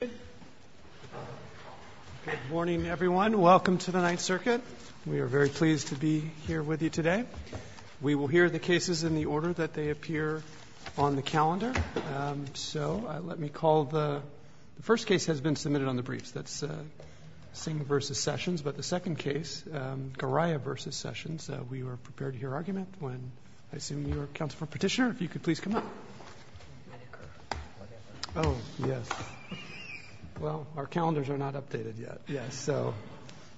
Good morning, everyone. Welcome to the Ninth Circuit. We are very pleased to be here with you today. We will hear the cases in the order that they appear on the calendar. So let me call the first case has been submitted on the briefs. That's Singh v. Sessions. But the second case, Goraya v. Sessions, we were prepared to hear argument when I assume you were counsel for petitioner. If you could please come up. Oh, yes. Well, our calendars are not updated yet. Yes. So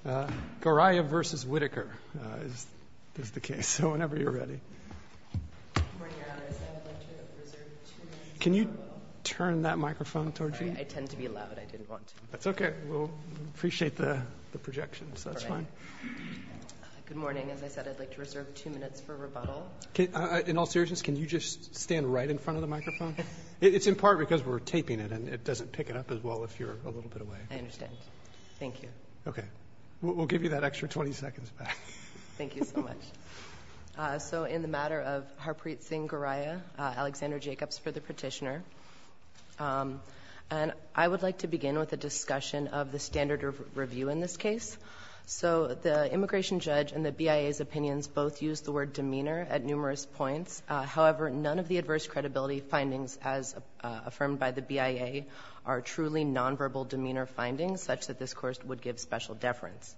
Goraya v. Whitaker is the case. So whenever you're ready. Can you turn that microphone toward you? I tend to be loud. I didn't want to. That's OK. We'll appreciate the projections. That's fine. Good morning. As I said, I'd like to reserve two minutes for rebuttal. In all seriousness, can you just stand right in front of the microphone? It's in part because we're taping it, and it doesn't pick it up as well if you're a little bit away. I understand. Thank you. OK. We'll give you that extra 20 seconds back. Thank you so much. So in the matter of Harprit Singh Goraya, Alexander Jacobs for the petitioner. And I would like to begin with a discussion of the standard of review in this case. So the immigration judge and the BIA's opinions both use the word demeanor at numerous points. However, none of the adverse credibility findings as affirmed by the BIA are truly nonverbal demeanor findings such that this Court would give special deference.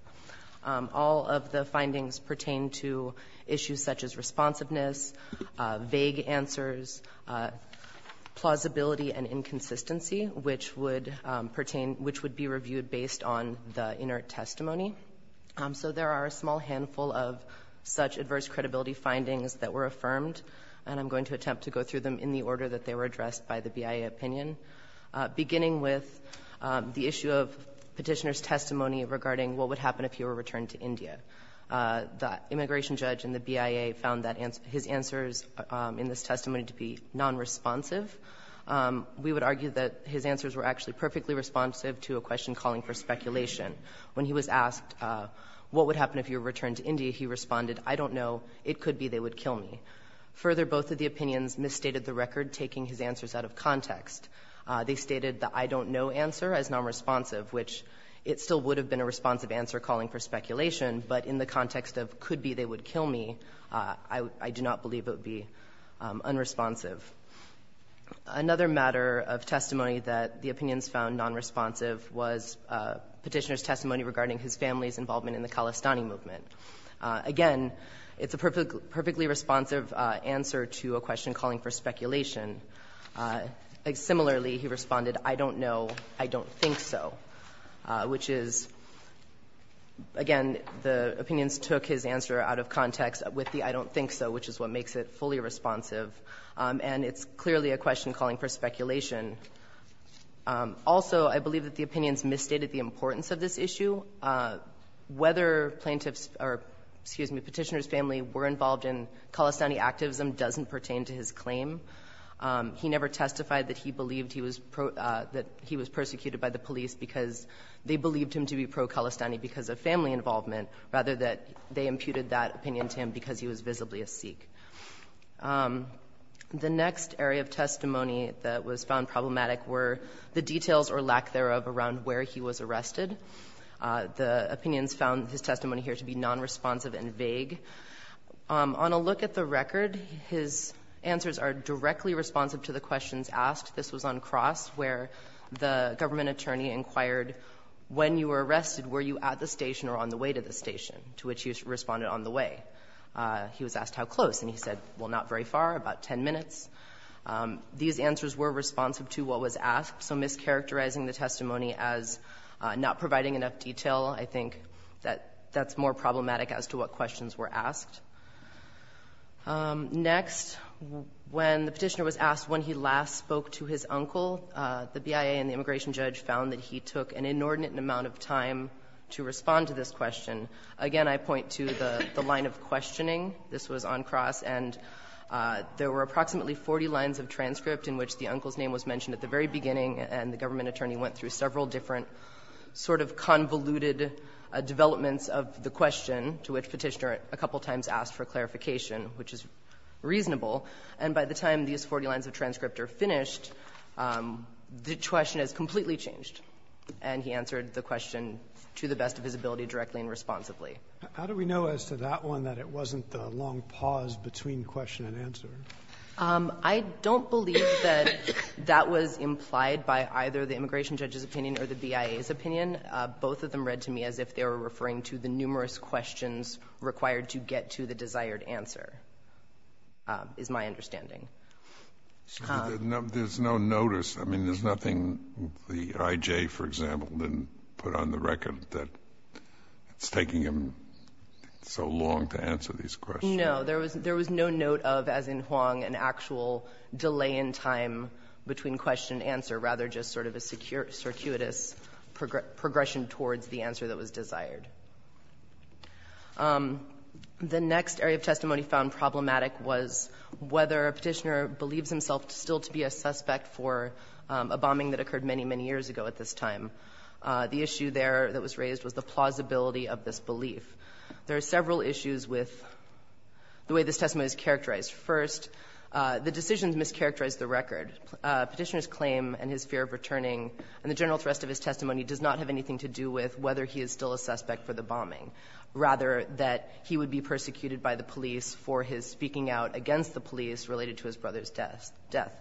All of the findings pertain to issues such as responsiveness, vague answers, plausibility and inconsistency, which would pertain to be reviewed based on the inert testimony testimony. So there are a small handful of such adverse credibility findings that were affirmed, and I'm going to attempt to go through them in the order that they were addressed by the BIA opinion, beginning with the issue of petitioner's testimony regarding what would happen if he were returned to India. The immigration judge and the BIA found that his answers in this testimony to be nonresponsive. When he was asked, what would happen if you were returned to India, he responded, I don't know. It could be they would kill me. Further, both of the opinions misstated the record, taking his answers out of context. They stated the I don't know answer as nonresponsive, which it still would have been a responsive answer calling for speculation, but in the context of could be they would kill me, I do not believe it would be unresponsive. Another matter of testimony that the opinions found nonresponsive was petitioner's testimony regarding his family's involvement in the Khalistani movement. Again, it's a perfectly responsive answer to a question calling for speculation. Similarly, he responded, I don't know, I don't think so, which is, again, the opinions took his answer out of context with the I don't think so, which is what makes it fully responsive, and it's clearly a question calling for speculation. Also, I believe that the opinions misstated the importance of this issue. Whether plaintiffs or, excuse me, petitioner's family were involved in Khalistani activism doesn't pertain to his claim. He never testified that he believed he was pro – that he was persecuted by the police because they believed him to be pro-Khalistani because of family involvement rather that they imputed that opinion to him because he was visibly a Sikh. The next area of testimony that was found problematic were the details or lack thereof around where he was arrested. The opinions found his testimony here to be nonresponsive and vague. On a look at the record, his answers are directly responsive to the questions asked. This was on Cross, where the government attorney inquired, when you were arrested, were you at the station or on the way to the station? To which he responded, on the way. He was asked how close, and he said, well, not very far, about 10 minutes. These answers were responsive to what was asked, so mischaracterizing the testimony as not providing enough detail, I think that that's more problematic as to what questions were asked. Next, when the petitioner was asked when he last spoke to his uncle, the BIA and the government attorney, to respond to this question, again, I point to the line of questioning. This was on Cross. And there were approximately 40 lines of transcript in which the uncle's name was mentioned at the very beginning, and the government attorney went through several different sort of convoluted developments of the question, to which Petitioner a couple times asked for clarification, which is reasonable. And by the time these 40 lines of transcript are finished, the question is completely changed, and he answered the question to the best of his ability directly and responsibly. How do we know as to that one that it wasn't the long pause between question and answer? I don't believe that that was implied by either the immigration judge's opinion or the BIA's opinion. Both of them read to me as if they were referring to the numerous questions required to get to the desired answer, is my understanding. Kennedy. There's no notice. I mean, there's nothing the IJ, for example, didn't put on the record that it's taking him so long to answer these questions. No. There was no note of, as in Huang, an actual delay in time between question and answer, rather just sort of a circuitous progression towards the answer that was desired. The next area of testimony found problematic was whether a Petitioner believes himself still to be a suspect for a bombing that occurred many, many years ago at this time. The issue there that was raised was the plausibility of this belief. There are several issues with the way this testimony is characterized. First, the decisions mischaracterized the record. Petitioner's claim and his fear of returning and the general thrust of his testimony does not have anything to do with whether he is still a suspect for the bombing. Rather, that he would be persecuted by the police for his speaking out against the police related to his brother's death.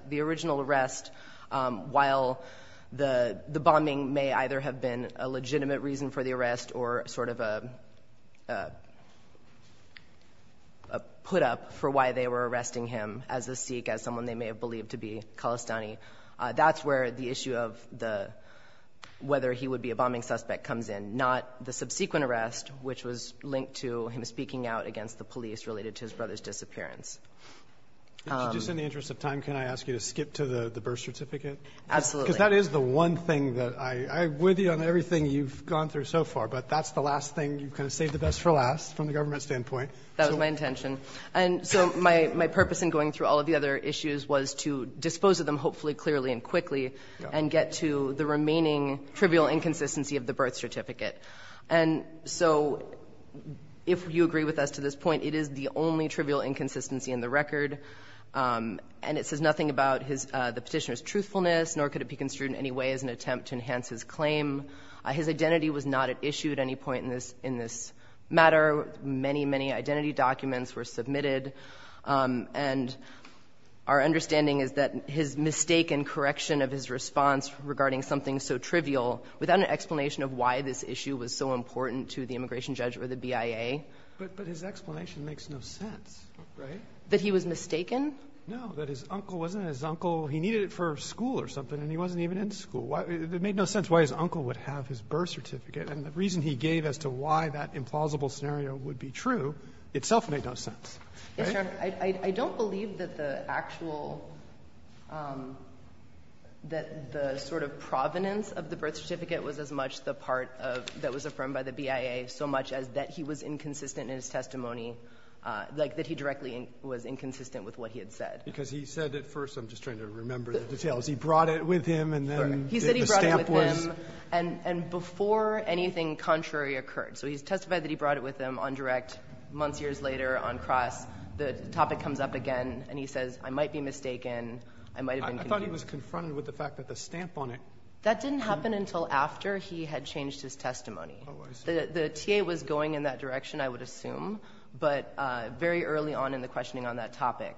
The original arrest, while the bombing may either have been a legitimate reason for the arrest or sort of a put-up for why they were arresting him as a Sikh, as someone they may have believed to be Khalistani. That's where the issue of the whether he would be a bombing suspect comes in, not the subsequent arrest, which was linked to him speaking out against the police related to his brother's disappearance. Roberts. In the interest of time, can I ask you to skip to the birth certificate? Absolutely. Because that is the one thing that I agree with you on everything you've gone through so far, but that's the last thing. You've kind of saved the best for last from the government standpoint. That was my intention. And so my purpose in going through all of the other issues was to dispose of them, hopefully clearly and quickly, and get to the remaining trivial inconsistency of the birth certificate. And so if you agree with us to this point, it is the only trivial inconsistency in the record, and it says nothing about the Petitioner's truthfulness, nor could it be construed in any way as an attempt to enhance his claim. His identity was not at issue at any point in this matter. Many, many identity documents were submitted. And our understanding is that his mistake in correction of his response regarding something so trivial, without an explanation of why this issue was so important to the immigration judge or the BIA. But his explanation makes no sense, right? That he was mistaken? No. That his uncle wasn't his uncle. He needed it for school or something, and he wasn't even in school. It made no sense why his uncle would have his birth certificate. And the reason he gave as to why that implausible scenario would be true itself made no sense, right? Yes, Your Honor. I don't believe that the actual – that the sort of provenance of the birth certificate was as much the part of – that was affirmed by the BIA so much as that he was inconsistent in his testimony, like that he directly was inconsistent with what he had said. Because he said at first – I'm just trying to remember the details. He brought it with him, and then the stamp was – anything contrary occurred. So he's testified that he brought it with him on direct. Months, years later, on cross, the topic comes up again, and he says, I might be mistaken, I might have been – I thought he was confronted with the fact that the stamp on it – That didn't happen until after he had changed his testimony. Oh, I see. The TA was going in that direction, I would assume, but very early on in the questioning on that topic.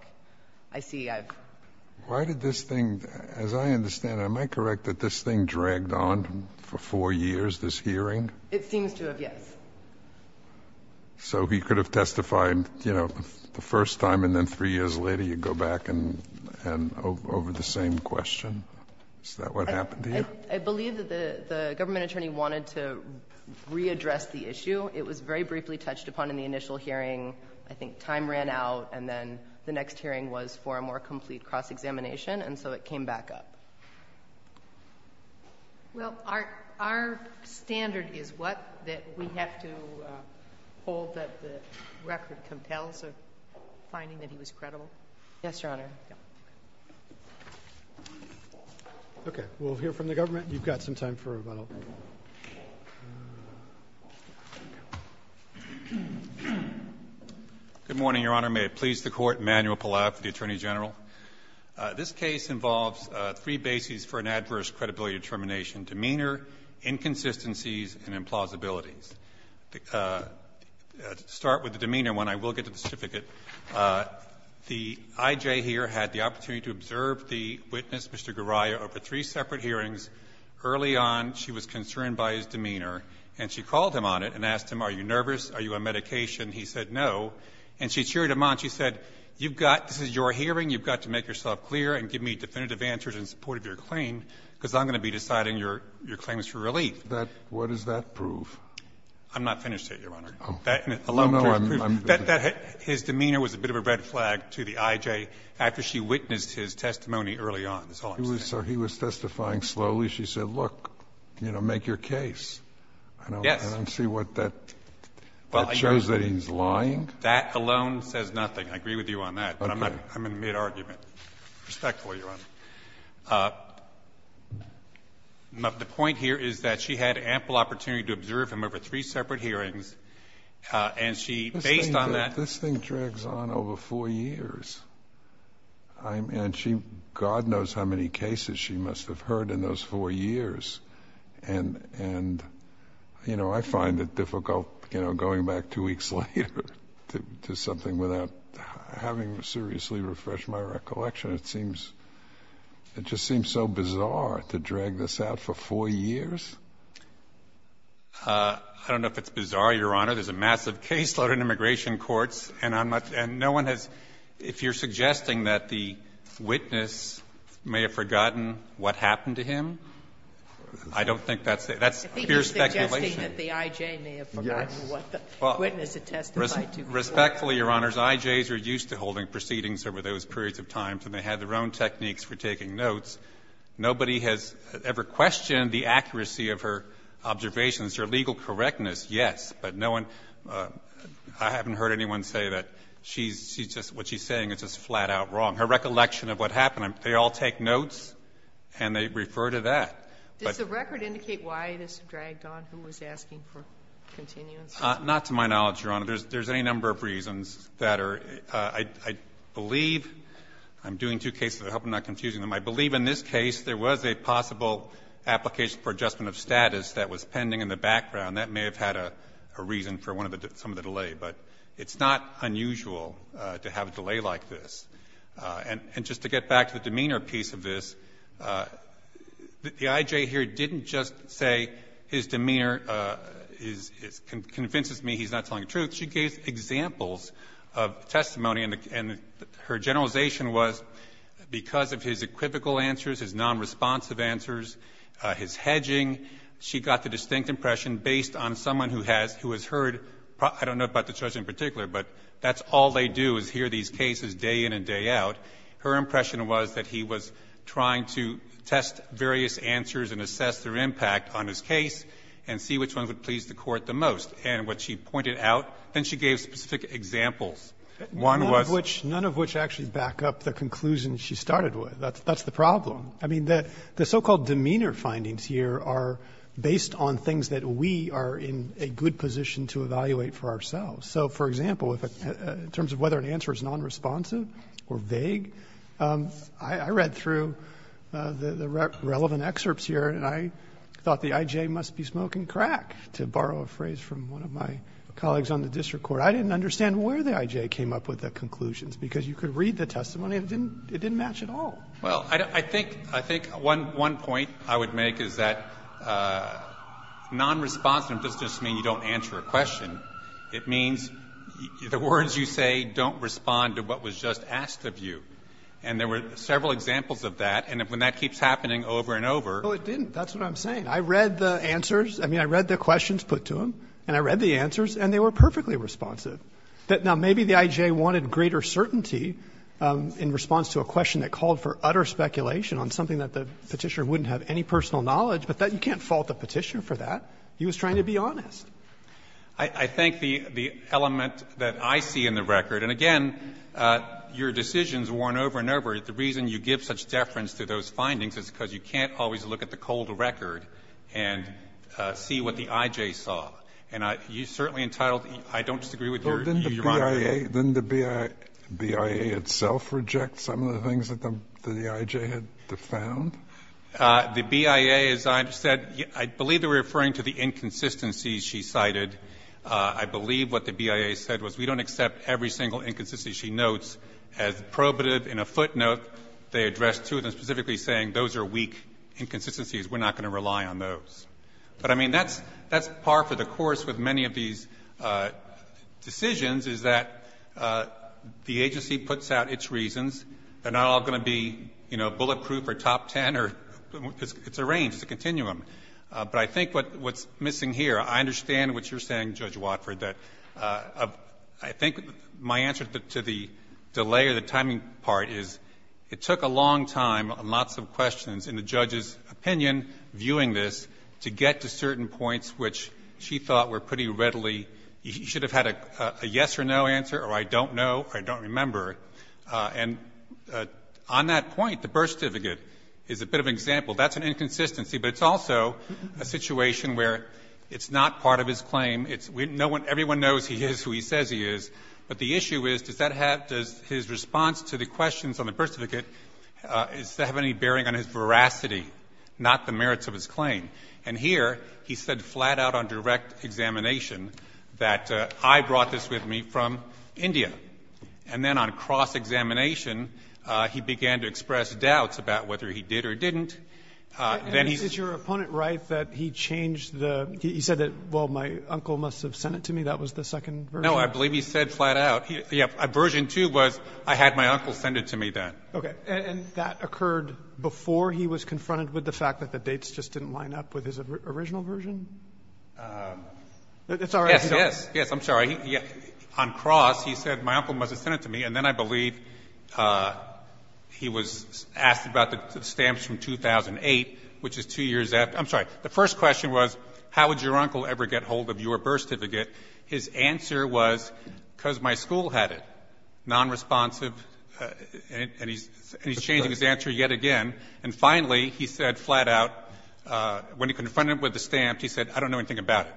I see I've – Why did this thing – as I understand it, am I correct that this thing dragged on for four years, this hearing? It seems to have, yes. So he could have testified, you know, the first time, and then three years later you go back and – over the same question? Is that what happened to you? I believe that the government attorney wanted to readdress the issue. It was very briefly touched upon in the initial hearing. I think time ran out, and then the next hearing was for a more complete cross-examination, and so it came back up. Well, our standard is what? That we have to hold that the record compels a finding that he was credible? Yes, Your Honor. Okay. We'll hear from the government. You've got some time for a vote. Good morning, Your Honor. May it please the Court, Emanuel Palau for the Attorney General. This case involves three bases for an adverse credibility determination, demeanor, inconsistencies, and implausibilities. To start with the demeanor one, I will get to the certificate. The I.J. here had the opportunity to observe the witness, Mr. Garaya, over three separate hearings. Early on, she was concerned by his demeanor, and she called him on it and asked him, are you nervous? Are you on medication? He said no. And she cheered him on. She said, you've got to make yourself clear and give me definitive answers in support of your claim, because I'm going to be deciding your claims for relief. What does that prove? I'm not finished yet, Your Honor. His demeanor was a bit of a red flag to the I.J. after she witnessed his testimony early on, is all I'm saying. So he was testifying slowly. She said, look, you know, make your case. Yes. I don't see what that shows that he's lying. That alone says nothing. I agree with you on that. Okay. But I'm in mid-argument. Respectful, Your Honor. The point here is that she had ample opportunity to observe him over three separate hearings, and she, based on that ---- This thing drags on over four years. And she, God knows how many cases she must have heard in those four years. And, you know, I find it difficult, you know, going back two weeks later. To something without having seriously refreshed my recollection. It seems so bizarre to drag this out for four years. I don't know if it's bizarre, Your Honor. There's a massive caseload in immigration courts, and no one has ---- if you're suggesting that the witness may have forgotten what happened to him, I don't think that's fair speculation. It's interesting that the I.J. may have forgotten what the witness had testified to. Respectfully, Your Honors, I.J.'s are used to holding proceedings over those periods of time, so they had their own techniques for taking notes. Nobody has ever questioned the accuracy of her observations. Her legal correctness, yes, but no one ---- I haven't heard anyone say that she's just ---- what she's saying is just flat-out wrong. Her recollection of what happened, they all take notes and they refer to that. But the record indicate why this dragged on, who was asking for continuance? Not to my knowledge, Your Honor. There's any number of reasons that are ---- I believe ---- I'm doing two cases to help me not confuse them. I believe in this case there was a possible application for adjustment of status that was pending in the background. That may have had a reason for one of the ---- some of the delay. But it's not unusual to have a delay like this. And just to get back to the demeanor piece of this, the I.J. here didn't just say his demeanor is ---- convinces me he's not telling the truth. She gave examples of testimony and her generalization was because of his equivocal answers, his nonresponsive answers, his hedging, she got the distinct impression based on someone who has heard ---- I don't know about the judge in particular, but that's all they do is hear these cases day in and day out. Her impression was that he was trying to test various answers and assess their impact on his case and see which one would please the Court the most. And what she pointed out, then she gave specific examples. One was ---- Roberts, none of which actually back up the conclusion she started with. That's the problem. I mean, the so-called demeanor findings here are based on things that we are in a good position to evaluate for ourselves. So, for example, in terms of whether an answer is nonresponsive or vague, I read through the relevant excerpts here and I thought the IJ must be smoking crack, to borrow a phrase from one of my colleagues on the district court. I didn't understand where the IJ came up with the conclusions, because you could read the testimony and it didn't match at all. Well, I think one point I would make is that nonresponsive doesn't just mean you don't answer a question. It means the words you say don't respond to what was just asked of you. And there were several examples of that. And when that keeps happening over and over ---- Roberts, no, it didn't. That's what I'm saying. I read the answers. I mean, I read the questions put to him and I read the answers and they were perfectly responsive. Now, maybe the IJ wanted greater certainty in response to a question that called for utter speculation on something that the Petitioner wouldn't have any personal knowledge, but you can't fault the Petitioner for that. He was trying to be honest. I think the element that I see in the record, and again, your decision is worn over and over, the reason you give such deference to those findings is because you can't always look at the cold record and see what the IJ saw. And you certainly entitled, I don't disagree with your argument. Didn't the BIA itself reject some of the things that the IJ had found? The BIA, as I said, I believe they were referring to the inconsistencies she cited. I believe what the BIA said was we don't accept every single inconsistency she notes as probative. In a footnote, they addressed two of them, specifically saying those are weak inconsistencies, we're not going to rely on those. But, I mean, that's par for the course with many of these decisions, is that the agency puts out its reasons. They're not all going to be, you know, bulletproof or top ten. It's a range, it's a continuum. But I think what's missing here, I understand what you're saying, Judge Watford, that I think my answer to the delay or the timing part is it took a long time and lots of questions in the judge's opinion viewing this to get to certain points which she thought were pretty readily, you should have had a yes or no answer or I don't know or I don't remember. And on that point, the birth certificate is a bit of an example. That's an inconsistency, but it's also a situation where it's not part of his claim. Everyone knows he is who he says he is, but the issue is, does that have, does his response to the questions on the birth certificate, does that have any bearing on his veracity, not the merits of his claim? And here he said flat out on direct examination that I brought this with me from India. And then on cross-examination, he began to express doubts about whether he did or didn't. Then he's -- And is your opponent right that he changed the, he said that, well, my uncle must have sent it to me, that was the second version? No, I believe he said flat out. Yeah. Version two was I had my uncle send it to me then. Okay. And that occurred before he was confronted with the fact that the dates just didn't line up with his original version? It's all right. Yes, yes. Yes, I'm sorry. On cross, he said my uncle must have sent it to me, and then I believe he was asked about the stamps from 2008, which is two years after. I'm sorry. The first question was how would your uncle ever get hold of your birth certificate? His answer was because my school had it. Nonresponsive, and he's changing his answer yet again. And finally, he said flat out, when he confronted him with the stamps, he said I don't know anything about it.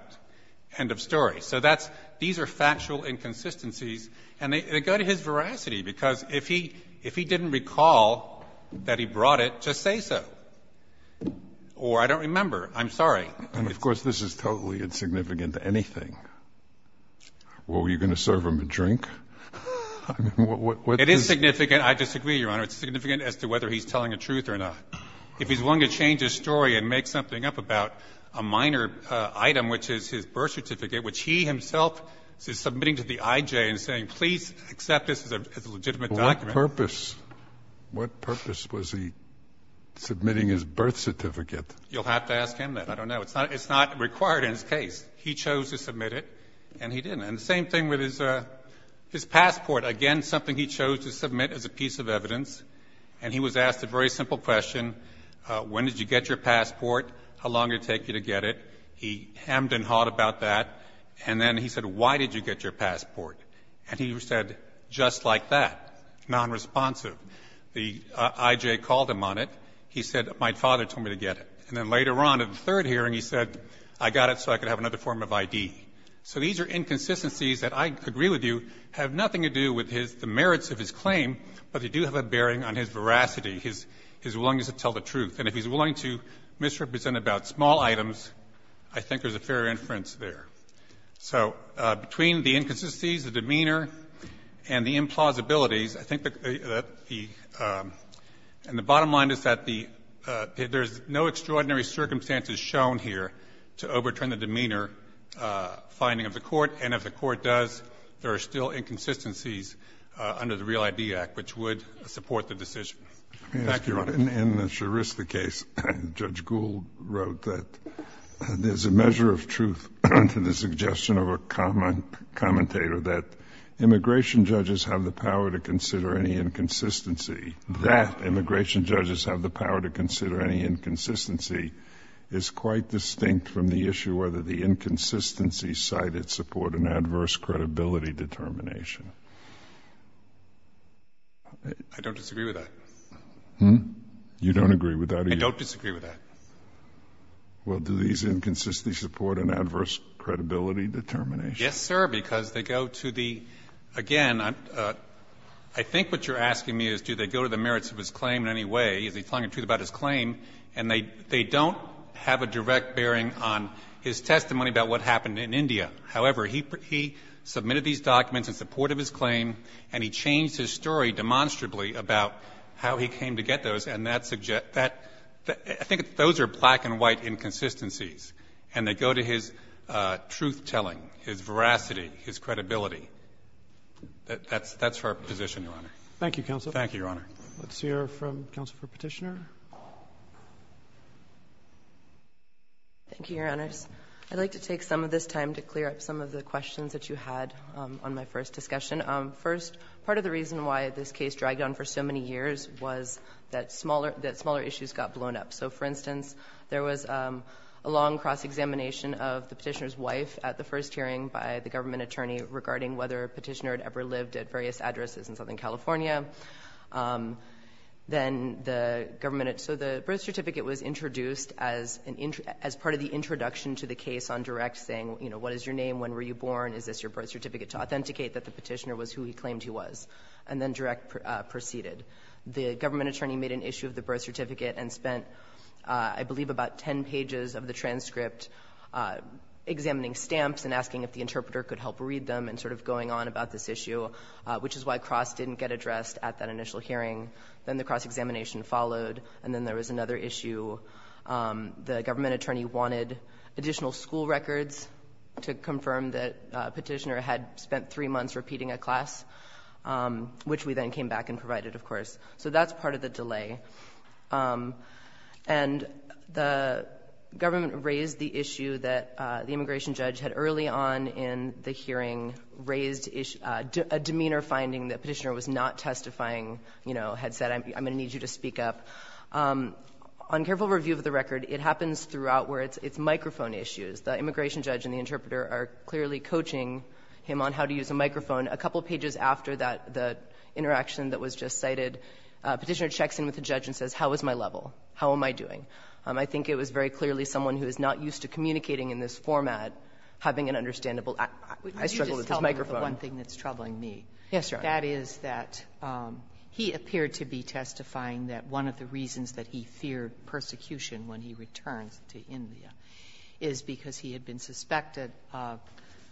End of story. So that's these are factual inconsistencies. And they go to his veracity, because if he didn't recall that he brought it, just say so. Or I don't remember. I'm sorry. And, of course, this is totally insignificant to anything. Well, were you going to serve him a drink? It is significant. I disagree, Your Honor. It's significant as to whether he's telling the truth or not. If he's willing to change his story and make something up about a minor item, which is his birth certificate, which he himself is submitting to the I.J. and saying please accept this as a legitimate document. Well, what purpose? What purpose was he submitting his birth certificate? You'll have to ask him that. I don't know. It's not required in his case. He chose to submit it, and he didn't. And the same thing with his passport, again, something he chose to submit as a piece of evidence. And he was asked a very simple question. When did you get your passport? How long did it take you to get it? He hemmed and hawed about that. And then he said, why did you get your passport? And he said, just like that, nonresponsive. The I.J. called him on it. He said, my father told me to get it. And then later on in the third hearing, he said, I got it so I could have another form of I.D. So these are inconsistencies that I agree with you have nothing to do with his merits of his claim, but they do have a bearing on his veracity, his willingness to tell the truth. And if he's willing to misrepresent about small items, I think there's a fair inference there. So between the inconsistencies, the demeanor, and the implausibilities, I think that the – and the bottom line is that the – there's no extraordinary circumstances shown here to overturn the demeanor finding of the Court, and if the Court does, there are still inconsistencies under the Real I.D. Act which would support the decision. Thank you, Your Honor. In the Scharista case, Judge Gould wrote that there's a measure of truth to the suggestion of a commentator that immigration judges have the power to consider any inconsistency, that immigration judges have the power to consider any inconsistency is quite distinct from the issue whether the inconsistency cited support an adverse credibility determination. I don't disagree with that. Hmm? You don't agree with that? I don't disagree with that. Well, do these inconsistencies support an adverse credibility determination? Yes, sir, because they go to the – again, I think what you're asking me is do they go to the merits of his claim in any way? Is he telling the truth about his claim? And they don't have a direct bearing on his testimony about what happened in India. However, he submitted these documents in support of his claim, and he changed his story demonstrably about how he came to get those, and that suggests – I think those are black and white inconsistencies, and they go to his truth-telling, his veracity, his credibility. That's our position, Your Honor. Thank you, counsel. Thank you, Your Honor. Let's hear from counsel for Petitioner. Thank you, Your Honors. I'd like to take some of this time to clear up some of the questions that you had on my first discussion. First, part of the reason why this case dragged on for so many years was that smaller – that smaller issues got blown up. So, for instance, there was a long cross-examination of the Petitioner's wife at the first hearing by the government attorney regarding whether Petitioner had ever lived at various addresses in Southern California. Then the government – so the birth certificate was introduced as part of the introduction to the case on direct, saying, you know, what is your name, when were you born, is this your birth certificate, to authenticate that the Petitioner was who he claimed he was, and then direct proceeded. The government attorney made an issue of the birth certificate and spent, I believe, about ten pages of the transcript examining stamps and asking if the interpreter could help read them, and sort of going on about this issue, which is why cross didn't get addressed at that initial hearing. Then the cross-examination followed, and then there was another issue. The government attorney wanted additional school records to confirm that Petitioner had spent three months repeating a class, which we then came back and provided, of course. So that's part of the delay. And the government raised the issue that the immigration judge had early on in the hearing raised a demeanor finding that Petitioner was not testifying, you know, had said, I'm going to need you to speak up. On careful review of the record, it happens throughout where it's microphone issues. The immigration judge and the interpreter are clearly coaching him on how to use a microphone. A couple pages after that, the interaction that was just cited, Petitioner checks in with the judge and says, how is my level? How am I doing? I think it was very clearly someone who is not used to communicating in this format having an understandable act. I struggled with his microphone. Yes, Your Honor. That is that he appeared to be testifying that one of the reasons that he feared persecution when he returned to India is because he had been suspected of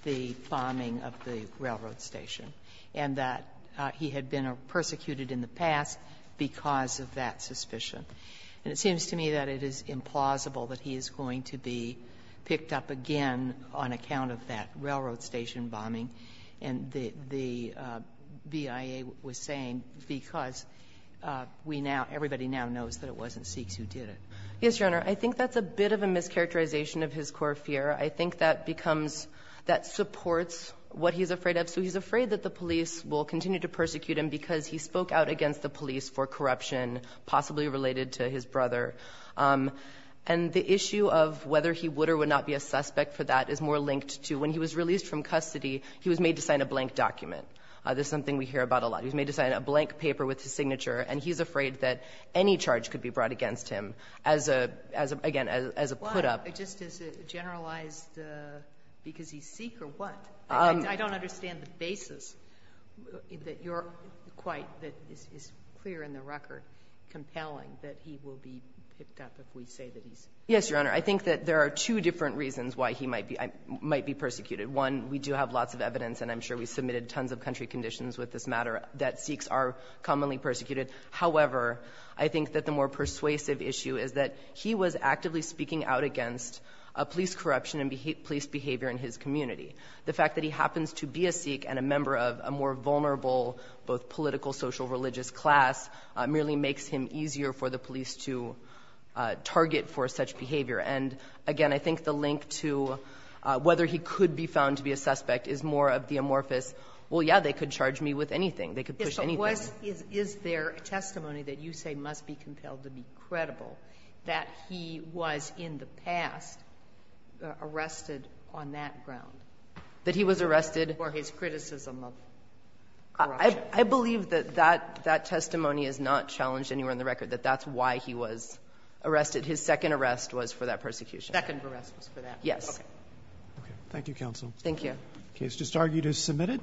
the bombing of the railroad station, and that he had been persecuted in the past because of that suspicion. And it seems to me that it is implausible that he is going to be picked up again on account of that railroad station bombing. And the BIA was saying because we now, everybody now knows that it wasn't Sikhs who did it. Yes, Your Honor. I think that's a bit of a mischaracterization of his core fear. I think that becomes, that supports what he's afraid of. So he's afraid that the police will continue to persecute him because he spoke out against the police for corruption, possibly related to his brother. And the issue of whether he would or would not be a suspect for that is more linked to when he was released from custody, he was made to sign a blank document. This is something we hear about a lot. He was made to sign a blank paper with his signature, and he's afraid that any charge could be brought against him as a, again, as a put-up. Why? Just is it generalized because he's Sikh or what? I don't understand the basis that you're quite, that is clear in the record, compelling that he will be picked up if we say that he's. Yes, Your Honor. I think that there are two different reasons why he might be persecuted. One, we do have lots of evidence, and I'm sure we submitted tons of country conditions with this matter, that Sikhs are commonly persecuted. However, I think that the more persuasive issue is that he was actively speaking out against police corruption and police behavior in his community. The fact that he happens to be a Sikh and a member of a more vulnerable both political, social, religious class merely makes him easier for the police to target for such behavior. And, again, I think the link to whether he could be found to be a suspect is more of the amorphous, well, yeah, they could charge me with anything. They could push anything. Yes, but was, is there testimony that you say must be compelled to be credible that he was in the past arrested on that ground? That he was arrested? For his criticism of corruption. I believe that that testimony is not challenged anywhere in the record, that that's why he was arrested. His second arrest was for that persecution. Second arrest was for that. Yes. Okay. Thank you, counsel. Thank you. The case just argued is submitted.